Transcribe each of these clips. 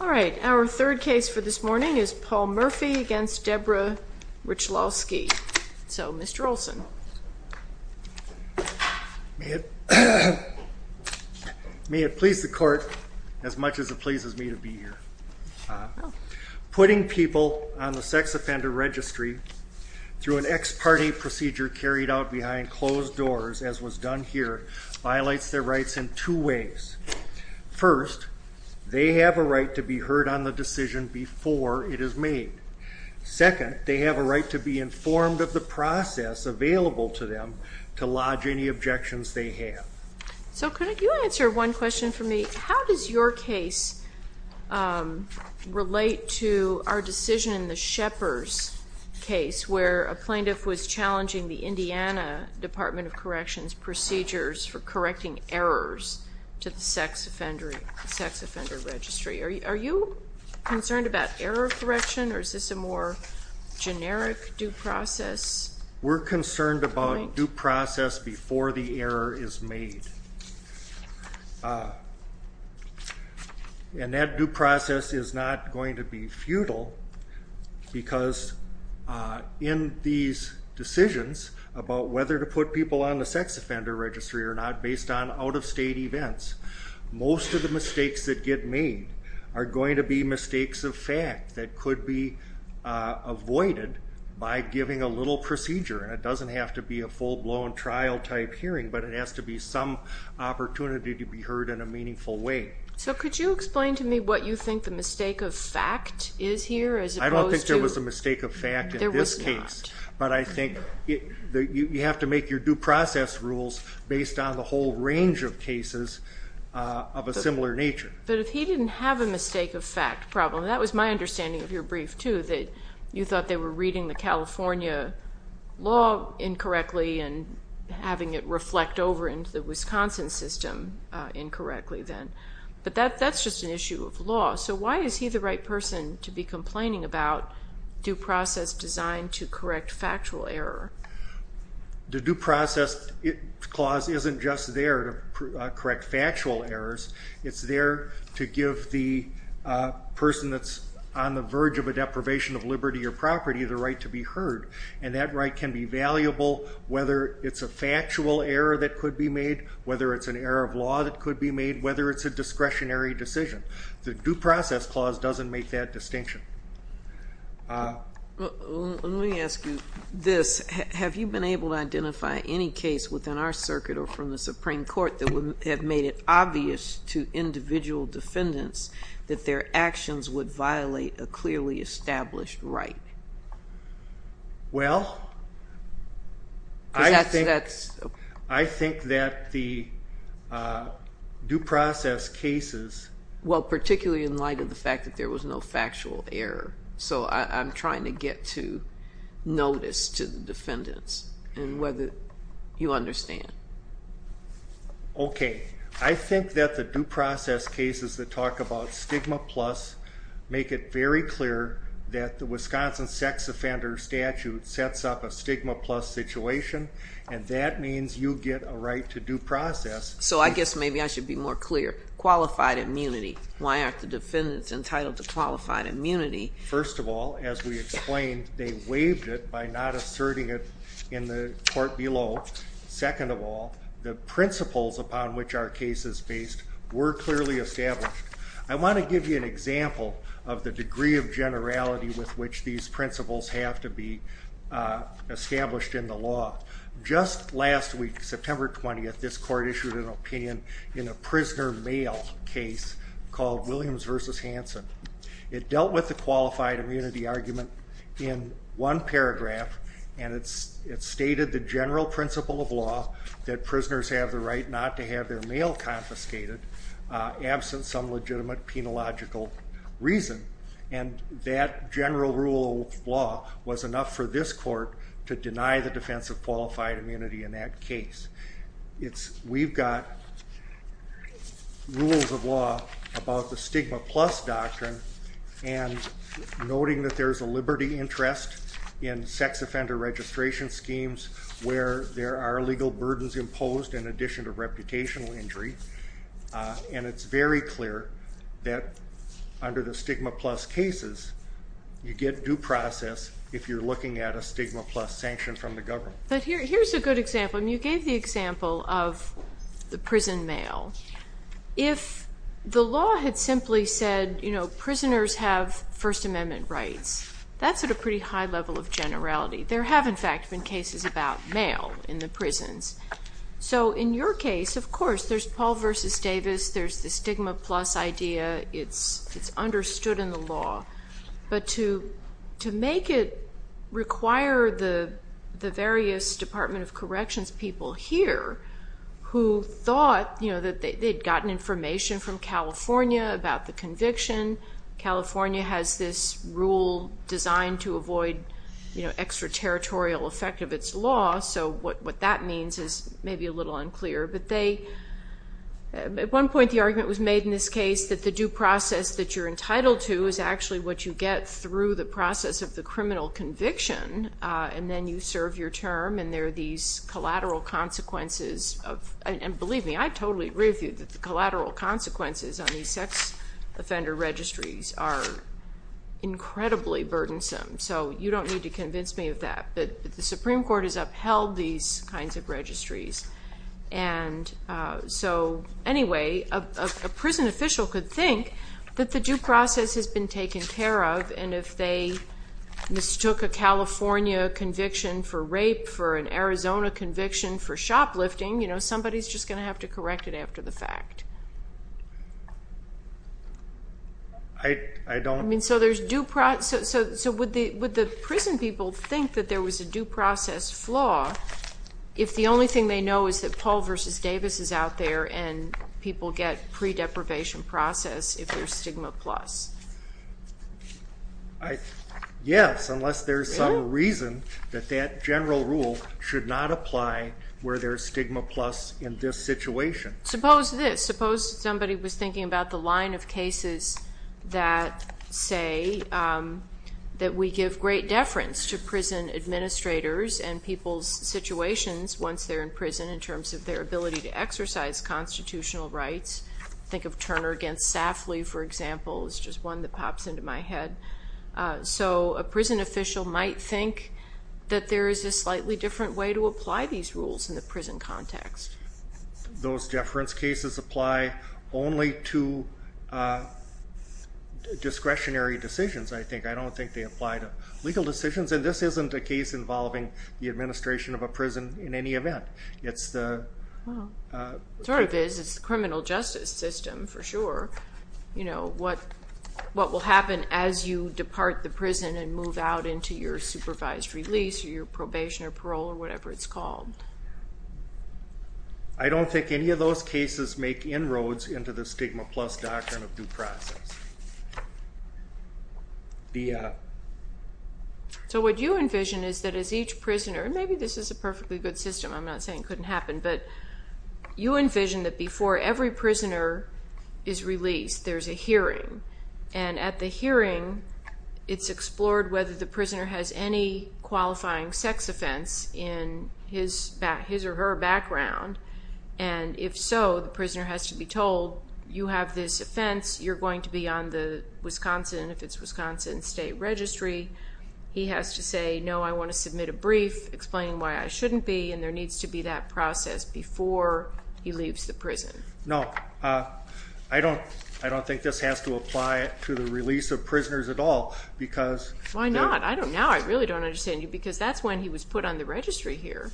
Alright, our third case for this morning is Paul Murphy v. Deborah Rychlowski. So Mr. May it please the court as much as it pleases me to be here. Putting people on the sex offender registry through an ex parte procedure carried out behind closed doors, as was done here, violates their rights in two ways. First, they have a right to be heard on the decision before it is made. Second, they have a right to be informed of the process available to them. So could you answer one question for me? How does your case relate to our decision in the Shepard's case where a plaintiff was challenging the Indiana Department of Corrections procedures for correcting errors to the sex offender registry? Are you concerned about error correction or is this a more generic due process? We're concerned about due process before the error is made. And that due process is not going to be futile because in these decisions about whether to put people on the sex offender registry or not based on out of state events, most of the mistakes that get made are going to be mistakes of fact that could be avoided by giving a little precision. It doesn't have to be a full blown trial type hearing, but it has to be some opportunity to be heard in a meaningful way. So could you explain to me what you think the mistake of fact is here? I don't think there was a mistake of fact in this case. There was not. But I think you have to make your due process rules based on the whole range of cases of a similar nature. But if he didn't have a mistake of fact problem, that was my understanding of your brief too, that you thought they were reading the California law incorrectly and having it reflect over into the Wisconsin system incorrectly then. But that's just an issue of law. So why is he the right person to be complaining about due process designed to correct factual error? The due process clause isn't just there to correct factual errors. It's there to give the person that's on the verge of a deprivation of liberty or property the right to be heard. And that right can be valuable whether it's a factual error that could be made, whether it's an error of law that could be made, whether it's a discretionary decision. The due process clause doesn't make that distinction. Let me ask you this. Have you been able to identify any case within our circuit or from the Supreme Court that would have made it obvious to individual defendants that their actions would violate a clearly established right? Well, I think that the due process cases. Well, particularly in light of the fact that there was no factual error. So I'm trying to get to notice to the defendants and whether you understand. Okay, I think that the due process cases that talk about stigma plus make it very clear that the Wisconsin sex offender statute sets up a stigma plus situation. And that means you get a right to due process. So I guess maybe I should be more clear. Qualified immunity. Why aren't the defendants entitled to qualified immunity? First of all, as we explained, they waived it by not asserting it in the court below. Second of all, the principles upon which our case is based were clearly established. I want to give you an example of the degree of generality with which these principles have to be established in the law. Just last week, September 20th, this court issued an opinion in a prisoner mail case called Williams v. Hansen. It dealt with the qualified immunity argument in one paragraph. And it stated the general principle of law that prisoners have the right not to have their mail confiscated absent some legitimate penological reason. And that general rule of law was enough for this court to deny the defense of qualified immunity in that case. We've got rules of law about the stigma plus doctrine and noting that there's a liberty interest in sex offender registration schemes where there are legal burdens imposed in addition to reputational injury. And it's very clear that under the stigma plus cases, you get due process if you're looking at a stigma plus sanction from the government. But here's a good example, and you gave the example of the prison mail. If the law had simply said, you know, prisoners have First Amendment rights, that's at a pretty high level of generality. There have, in fact, been cases about mail in the prisons. So in your case, of course, there's Paul v. Davis. There's the stigma plus idea. It's understood in the law. But to make it require the various Department of Corrections people here who thought, you know, that they'd gotten information from California about the conviction. California has this rule designed to avoid, you know, extraterritorial effect of its law. So what that means is maybe a little unclear. But at one point, the argument was made in this case that the due process that you're entitled to is actually what you get through the process of the criminal conviction. And then you serve your term, and there are these collateral consequences. And believe me, I totally agree with you that the collateral consequences on these sex offender registries are incredibly burdensome. So you don't need to convince me of that. But the Supreme Court has upheld these kinds of registries. And so anyway, a prison official could think that the due process has been taken care of. And if they mistook a California conviction for rape, for an Arizona conviction for shoplifting, you know, somebody's just going to have to correct it after the fact. I mean, so would the prison people think that there was a due process flaw if the only thing they know is that Paul v. Davis is out there and people get pre-deprivation process if there's stigma plus? Yes, unless there's some reason that that general rule should not apply where there's stigma plus in this situation. Suppose this. Suppose somebody was thinking about the line of cases that say that we give great deference to prison administrators and people's situations once they're in prison in terms of their ability to exercise constitutional rights. Think of Turner against Safley, for example, is just one that pops into my head. So a prison official might think that there is a slightly different way to apply these rules in the prison context. Those deference cases apply only to discretionary decisions, I think. I don't think they apply to legal decisions. And this isn't a case involving the administration of a prison in any event. It's the criminal justice system for sure. What will happen as you depart the prison and move out into your supervised release or your probation or parole or whatever it's called? I don't think any of those cases make inroads into the stigma plus doctrine of due process. So what you envision is that as each prisoner, and maybe this is a perfectly good system. I'm not saying it couldn't happen. But you envision that before every prisoner is released, there's a hearing. And at the hearing, it's explored whether the prisoner has any qualifying sex offense in his or her background. And if so, the prisoner has to be told, you have this offense. You're going to be on the Wisconsin, if it's Wisconsin State Registry. He has to say, no, I want to submit a brief explaining why I shouldn't be. And there needs to be that process before he leaves the prison. No. I don't think this has to apply to the release of prisoners at all. Why not? Now I really don't understand you. Because that's when he was put on the registry here.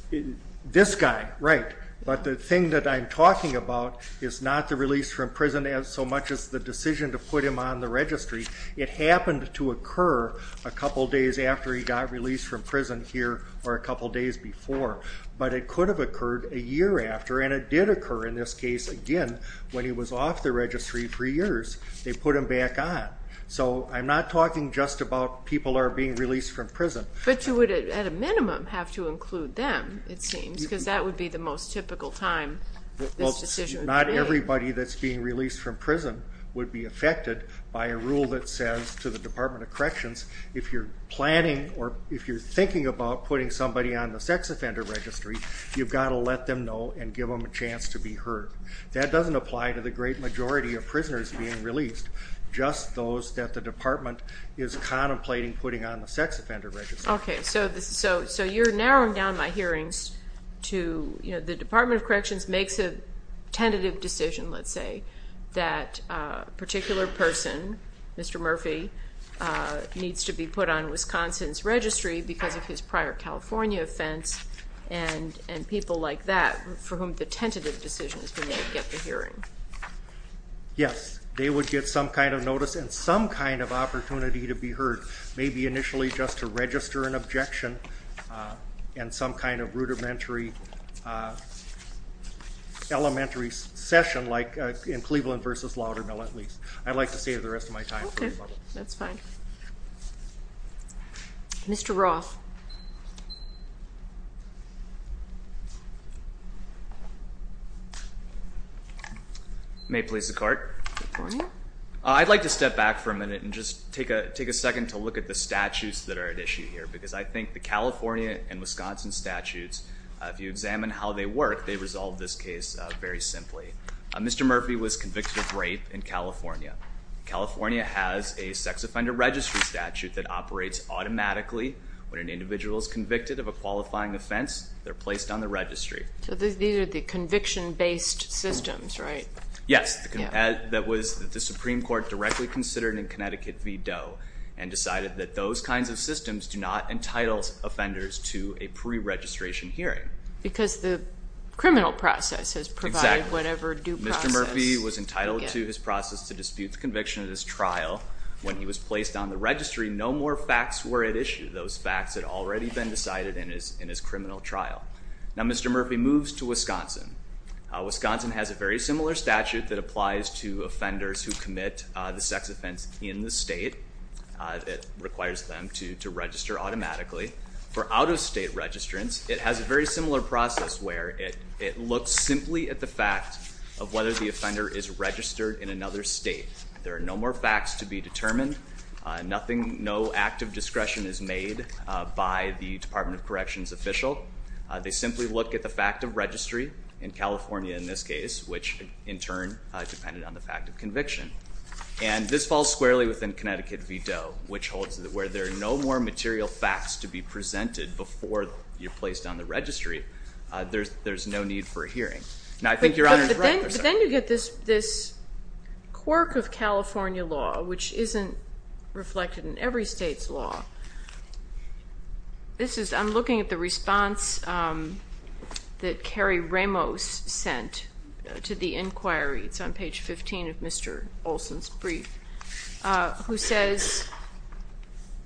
This guy, right. But the thing that I'm talking about is not the release from prison so much as the decision to put him on the registry. It happened to occur a couple days after he got released from prison here or a couple days before. But it could have occurred a year after. And it did occur in this case, again, when he was off the registry for years. They put him back on. But you would, at a minimum, have to include them, it seems, because that would be the most typical time this decision would be made. Well, not everybody that's being released from prison would be affected by a rule that says to the Department of Corrections, if you're planning or if you're thinking about putting somebody on the sex offender registry, you've got to let them know and give them a chance to be heard. That doesn't apply to the great majority of prisoners being released, just those that the department is contemplating putting on the sex offender registry. Okay, so you're narrowing down my hearings to, you know, the Department of Corrections makes a tentative decision, let's say, that a particular person, Mr. Murphy, needs to be put on Wisconsin's registry because of his prior California offense and people like that for whom the tentative decision has been made get the hearing. Yes, they would get some kind of notice and some kind of opportunity to be heard. Maybe initially just to register an objection and some kind of rudimentary elementary session, like in Cleveland v. Laudermill, at least. I'd like to save the rest of my time. Okay, that's fine. Mr. Roth. May it please the Court. Good morning. I'd like to step back for a minute and just take a second to look at the statutes that are at issue here because I think the California and Wisconsin statutes, if you examine how they work, they resolve this case very simply. Mr. Murphy was convicted of rape in California. California has a sex offender registry statute that operates automatically when an individual is convicted of a qualifying offense, they're placed on the registry. So these are the conviction-based systems, right? Yes. That was the Supreme Court directly considered in Connecticut v. Doe and decided that those kinds of systems do not entitle offenders to a preregistration hearing. Because the criminal process has provided whatever due process. Exactly. Mr. Murphy was entitled to his process to dispute the conviction at his trial. When he was placed on the registry, no more facts were at issue. Those facts had already been decided in his criminal trial. Now Mr. Murphy moves to Wisconsin. Wisconsin has a very similar statute that applies to offenders who commit the sex offense in the state that requires them to register automatically. For out-of-state registrants, it has a very similar process where it looks simply at the fact of whether the offender is registered in another state. There are no more facts to be determined. No active discretion is made by the Department of Corrections official. They simply look at the fact of registry in California in this case, which in turn depended on the fact of conviction. And this falls squarely within Connecticut v. Doe, which holds that where there are no more material facts to be presented before you're placed on the registry, there's no need for a hearing. But then you get this quirk of California law, which isn't reflected in every state's law. This is, I'm looking at the response that Carrie Ramos sent to the inquiry. It's on page 15 of Mr. Olson's brief, who says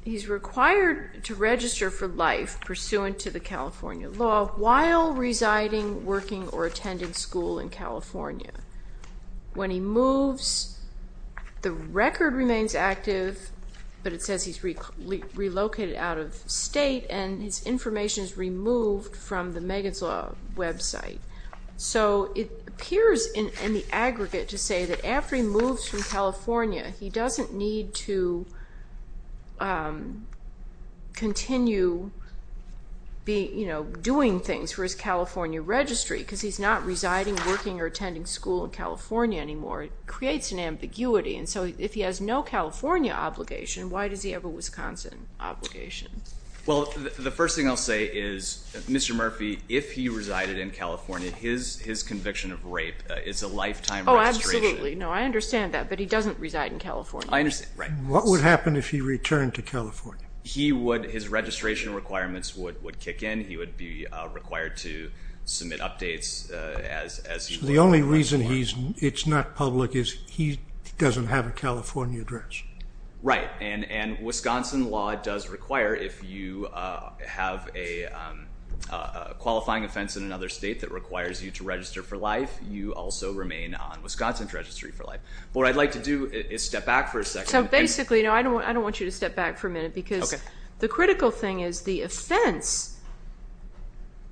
he's required to register for life pursuant to the California law while residing, working, or attending school in California. When he moves, the record remains active, but it says he's relocated out of state, and his information is removed from the Megan's Law website. So it appears in the aggregate to say that after he moves from California, he doesn't need to continue doing things for his California registry because he's not residing, working, or attending school in California anymore. It creates an ambiguity, and so if he has no California obligation, why does he have a Wisconsin obligation? Well, the first thing I'll say is, Mr. Murphy, if he resided in California, his conviction of rape is a lifetime registration. No, I understand that, but he doesn't reside in California. What would happen if he returned to California? His registration requirements would kick in. He would be required to submit updates. The only reason it's not public is he doesn't have a California address. Right, and Wisconsin law does require if you have a qualifying offense in another state that requires you to register for life, you also remain on Wisconsin's registry for life. What I'd like to do is step back for a second. So basically, I don't want you to step back for a minute because the critical thing is the offense,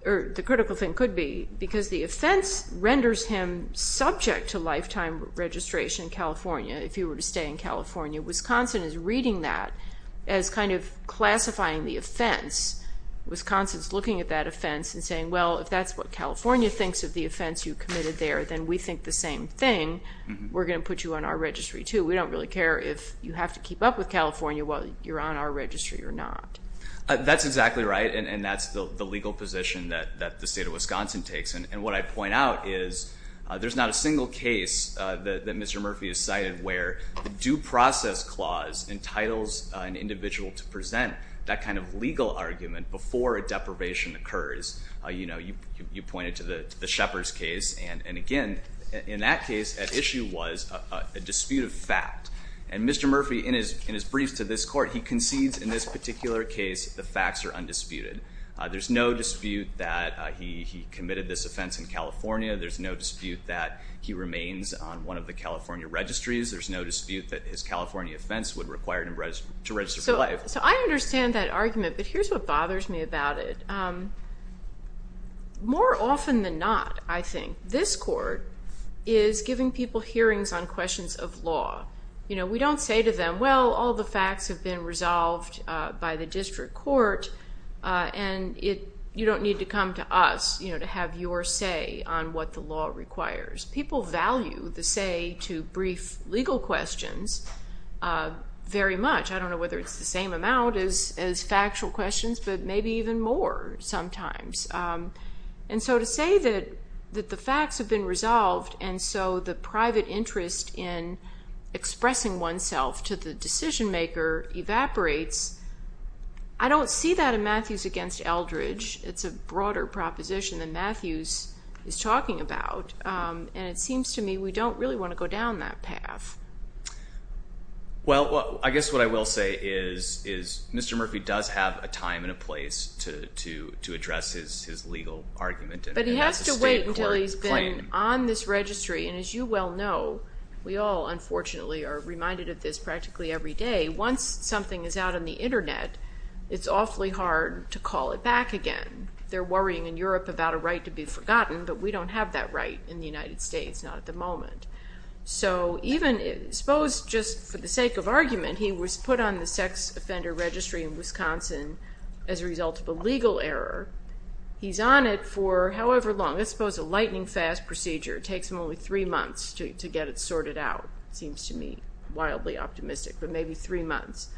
or the critical thing could be, because the offense renders him subject to lifetime registration in California if he were to stay in California. Wisconsin is reading that as kind of classifying the offense. Wisconsin is looking at that offense and saying, well, if that's what California thinks of the offense you committed there, then we think the same thing. We're going to put you on our registry, too. We don't really care if you have to keep up with California whether you're on our registry or not. That's exactly right, and that's the legal position that the state of Wisconsin takes. And what I point out is there's not a single case that Mr. Murphy has cited where the due process clause entitles an individual to present that kind of legal argument before a deprivation occurs. You pointed to the Shepard's case, and again, in that case, at issue was a dispute of fact. And Mr. Murphy, in his briefs to this court, he concedes in this particular case the facts are undisputed. There's no dispute that he committed this offense in California. There's no dispute that he remains on one of the California registries. There's no dispute that his California offense would require him to register for life. So I understand that argument, but here's what bothers me about it. More often than not, I think, this court is giving people hearings on questions of law. We don't say to them, well, all the facts have been resolved by the district court, and you don't need to come to us to have your say on what the law requires. People value the say to brief legal questions very much. I don't know whether it's the same amount as factual questions, but maybe even more sometimes. And so to say that the facts have been resolved, and so the private interest in expressing oneself to the decision-maker evaporates, I don't see that in Matthews against Eldridge. It's a broader proposition than Matthews is talking about, and it seems to me we don't really want to go down that path. Well, I guess what I will say is Mr. Murphy does have a time and a place to address his legal argument. But he has to wait until he's been on this registry. And as you well know, we all, unfortunately, are reminded of this practically every day. Once something is out on the Internet, it's awfully hard to call it back again. They're worrying in Europe about a right to be forgotten, but we don't have that right in the United States, not at the moment. So even, I suppose, just for the sake of argument, he was put on the sex offender registry in Wisconsin as a result of a legal error. He's on it for however long. Let's suppose a lightning-fast procedure. It takes him only three months to get it sorted out. Seems to me wildly optimistic, but maybe three months.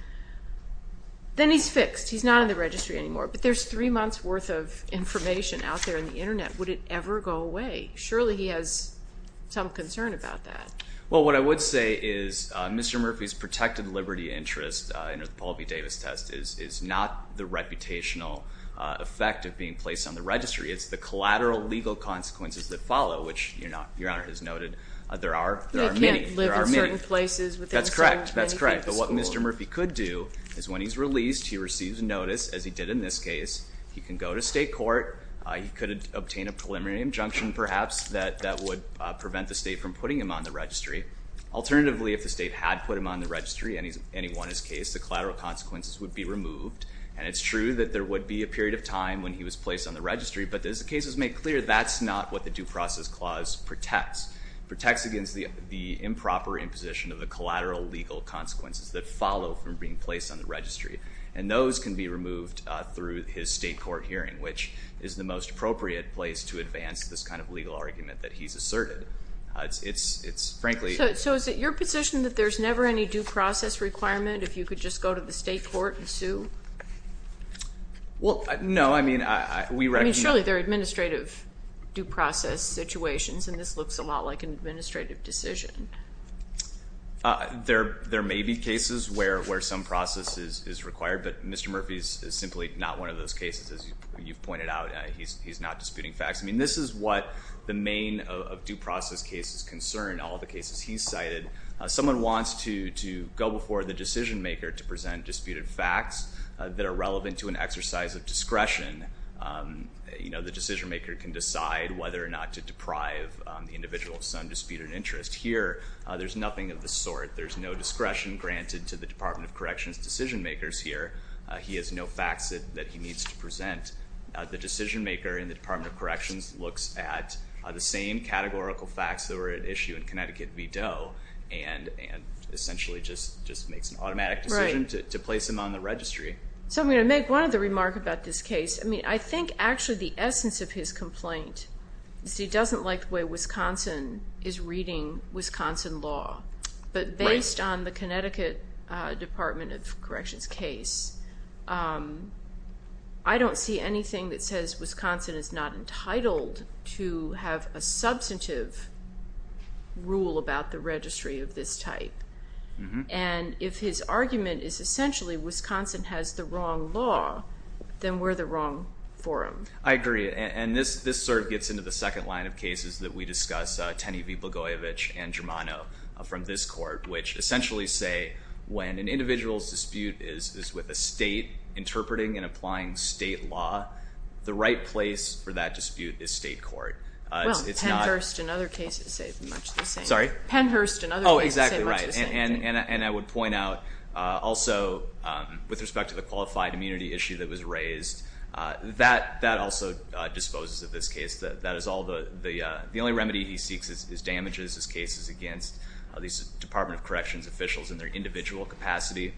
Then he's fixed. He's not on the registry anymore. But there's three months' worth of information out there on the Internet. Would it ever go away? Surely he has some concern about that. Well, what I would say is Mr. Murphy's protected liberty interest under the Paul B. Davis test is not the reputational effect of being placed on the registry. They can't live in certain places within the school. That's correct, that's correct. But what Mr. Murphy could do is when he's released, he receives notice, as he did in this case. He can go to state court. He could obtain a preliminary injunction, perhaps, that would prevent the state from putting him on the registry. Alternatively, if the state had put him on the registry and he won his case, the collateral consequences would be removed. And it's true that there would be a period of time when he was placed on the registry, but as the case is made clear, that's not what the Due Process Clause protects. It protects against the improper imposition of the collateral legal consequences that follow from being placed on the registry. And those can be removed through his state court hearing, which is the most appropriate place to advance this kind of legal argument that he's asserted. It's frankly – So is it your position that there's never any due process requirement if you could just go to the state court and sue? Well, no, I mean, we – I mean, surely there are administrative due process situations, and this looks a lot like an administrative decision. There may be cases where some process is required, but Mr. Murphy is simply not one of those cases. As you've pointed out, he's not disputing facts. I mean, this is what the main of due process cases concern, all the cases he's cited. Someone wants to go before the decision maker to present disputed facts that are relevant to an exercise of discretion. You know, the decision maker can decide whether or not to deprive the individual of some disputed interest. Here, there's nothing of the sort. There's no discretion granted to the Department of Corrections decision makers here. He has no facts that he needs to present. The decision maker in the Department of Corrections looks at the same categorical facts that were at issue in Connecticut v. Doe and essentially just makes an automatic decision to place him on the registry. So I'm going to make one other remark about this case. I mean, I think actually the essence of his complaint is he doesn't like the way Wisconsin is reading Wisconsin law. But based on the Connecticut Department of Corrections case, I don't see anything that says Wisconsin is not entitled to have a substantive rule about the registry of this type. And if his argument is essentially Wisconsin has the wrong law, then we're the wrong forum. I agree, and this sort of gets into the second line of cases that we discuss, Tenney v. Blagojevich and Germano from this court, which essentially say when an individual's dispute is with a state interpreting and applying state law, the right place for that dispute is state court. Well, Pennhurst and other cases say much the same. Sorry? Pennhurst and other cases say much the same. Oh, exactly right. And I would point out also with respect to the qualified immunity issue that was raised, that also disposes of this case. The only remedy he seeks is damages, is cases against these Department of Corrections officials in their individual capacity.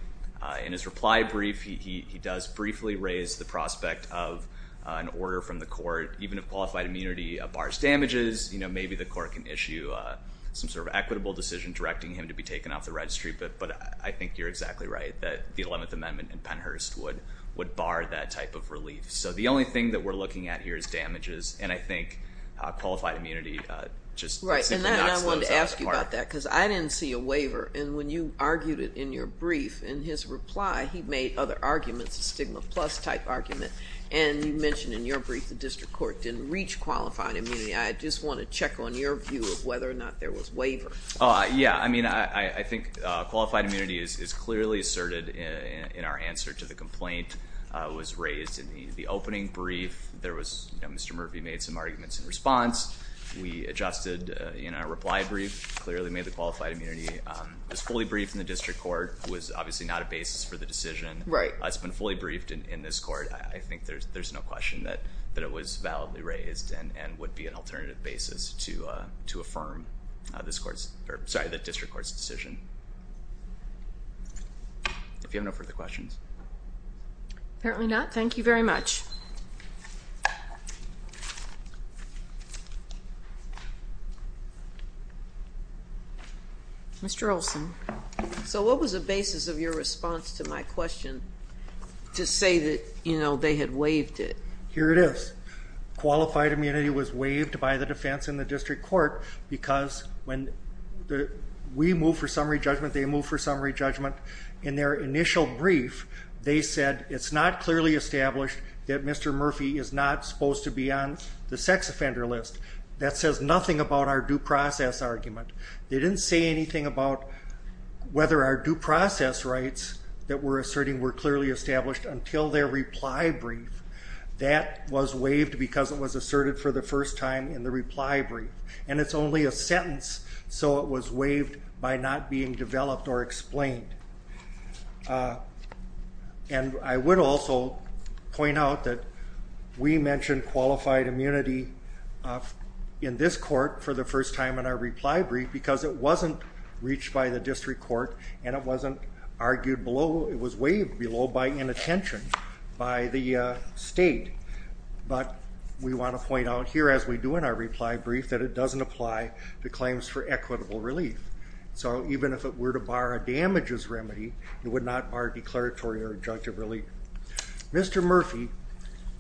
In his reply brief, he does briefly raise the prospect of an order from the court. Even if qualified immunity bars damages, maybe the court can issue some sort of equitable decision directing him to be taken off the registry. But I think you're exactly right that the 11th Amendment in Pennhurst would bar that type of relief. So the only thing that we're looking at here is damages, and I think qualified immunity just simply knocks those out of the park. Right, and I wanted to ask you about that because I didn't see a waiver, and when you argued it in your brief, in his reply he made other arguments, a stigma plus type argument, and you mentioned in your brief the district court didn't reach qualified immunity. I just want to check on your view of whether or not there was waiver. Yeah, I mean, I think qualified immunity is clearly asserted in our answer to the complaint was raised in the opening brief. Mr. Murphy made some arguments in response. We adjusted in our reply brief, clearly made the qualified immunity. It was fully briefed in the district court. It was obviously not a basis for the decision. Right. It's been fully briefed in this court. I think there's no question that it was validly raised and would be an alternative basis to affirm the district court's decision. If you have no further questions. Apparently not. Thank you very much. Mr. Olson, so what was the basis of your response to my question to say that, you know, they had waived it? Here it is. Qualified immunity was waived by the defense and the district court because when we move for summary judgment, they move for summary judgment. In their initial brief, they said it's not clearly established that Mr. Murphy is not supposed to be on the sex offender list. That says nothing about our due process argument. They didn't say anything about whether our due process rights that we're asserting were clearly established until their reply brief. That was waived because it was asserted for the first time in the reply brief. And it's only a sentence. So it was waived by not being developed or explained. And I would also point out that we mentioned qualified immunity in this court for the first time in our reply brief because it wasn't reached by the district court and it wasn't argued below. It was waived below by inattention by the state. But we want to point out here as we do in our reply brief that it doesn't apply to claims for equitable relief. So even if it were to bar a damages remedy, it would not bar declaratory or injunctive relief. Mr. Murphy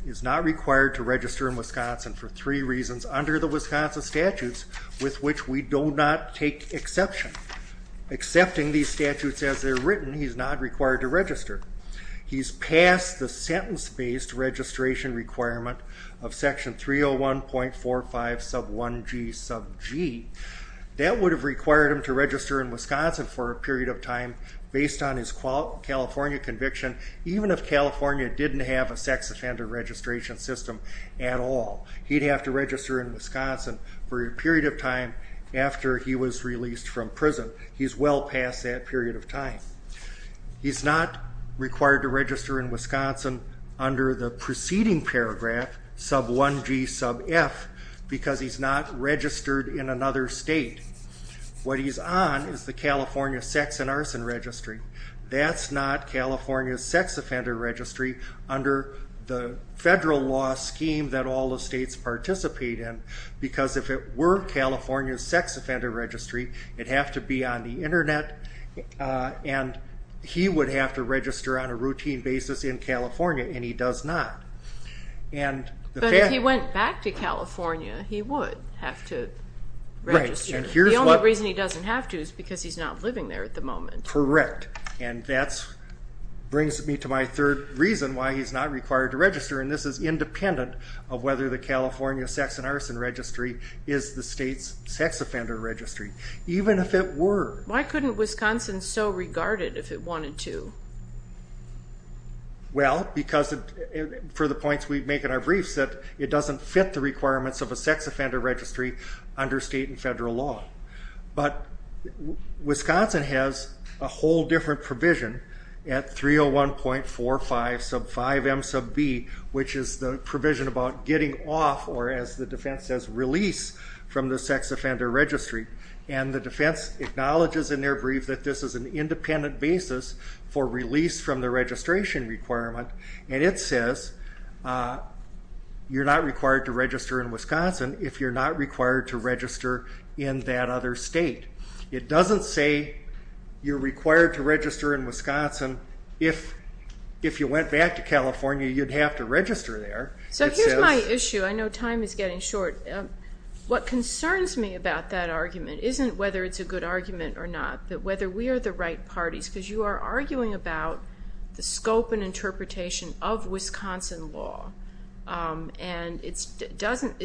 is not required to register in Wisconsin for three reasons under the Wisconsin statutes with which we do not take exception. Accepting these statutes as they're written, he's not required to register. He's passed the sentence-based registration requirement of section 301.45 sub 1g sub g. That would have required him to register in Wisconsin for a period of time based on his California conviction, even if California didn't have a sex offender registration system at all. He'd have to register in Wisconsin for a period of time after he was released from prison. He's well past that period of time. He's not required to register in Wisconsin under the preceding paragraph, sub 1g sub f, because he's not registered in another state. What he's on is the California sex and arson registry. That's not California's sex offender registry under the federal law scheme that all the states participate in, because if it were California's sex offender registry, it'd have to be on the Internet, and he would have to register on a routine basis in California, and he does not. But if he went back to California, he would have to register. The only reason he doesn't have to is because he's not living there at the moment. Correct, and that brings me to my third reason why he's not required to register, and this is independent of whether the California sex and arson registry is the state's sex offender registry, even if it were. Why couldn't Wisconsin so regard it if it wanted to? Well, because for the points we make in our briefs, that it doesn't fit the requirements of a sex offender registry under state and federal law. But Wisconsin has a whole different provision at 301.45 sub 5 M sub B, which is the provision about getting off, or as the defense says, release from the sex offender registry, and the defense acknowledges in their brief that this is an independent basis for release from the registration requirement, and it says you're not required to register in Wisconsin if you're not required to register in that other state. It doesn't say you're required to register in Wisconsin if you went back to California, you'd have to register there. So here's my issue. I know time is getting short. What concerns me about that argument isn't whether it's a good argument or not, but whether we are the right parties, because you are arguing about the scope and interpretation of Wisconsin law, and it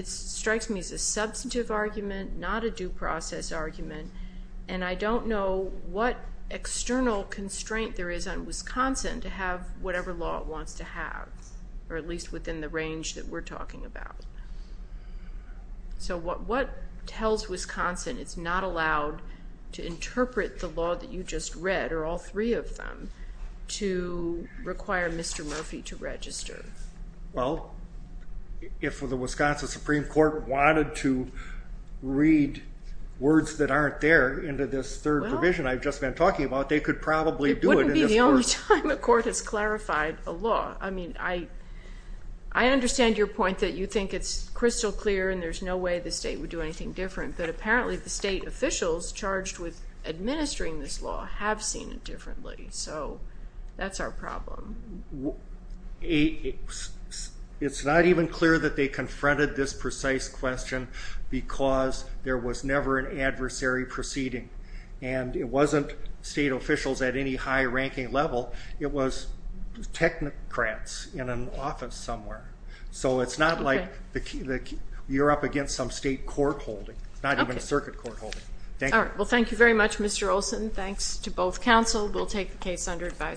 strikes me as a substantive argument, not a due process argument, and I don't know what external constraint there is on Wisconsin to have whatever law it wants to have, or at least within the range that we're talking about. So what tells Wisconsin it's not allowed to interpret the law that you just read, or all three of them, to require Mr. Murphy to register? Well, if the Wisconsin Supreme Court wanted to read words that aren't there into this third provision I've just been talking about, they could probably do it in this court. It wouldn't be the only time a court has clarified a law. I mean, I understand your point that you think it's crystal clear and there's no way the state would do anything different, but apparently the state officials charged with administering this law have seen it differently, so that's our problem. It's not even clear that they confronted this precise question because there was never an adversary proceeding, and it wasn't state officials at any high-ranking level. It was technocrats in an office somewhere. So it's not like you're up against some state court holding. It's not even a circuit court holding. All right, well, thank you very much, Mr. Olson. Thanks to both counsel. We'll take the case under advisory.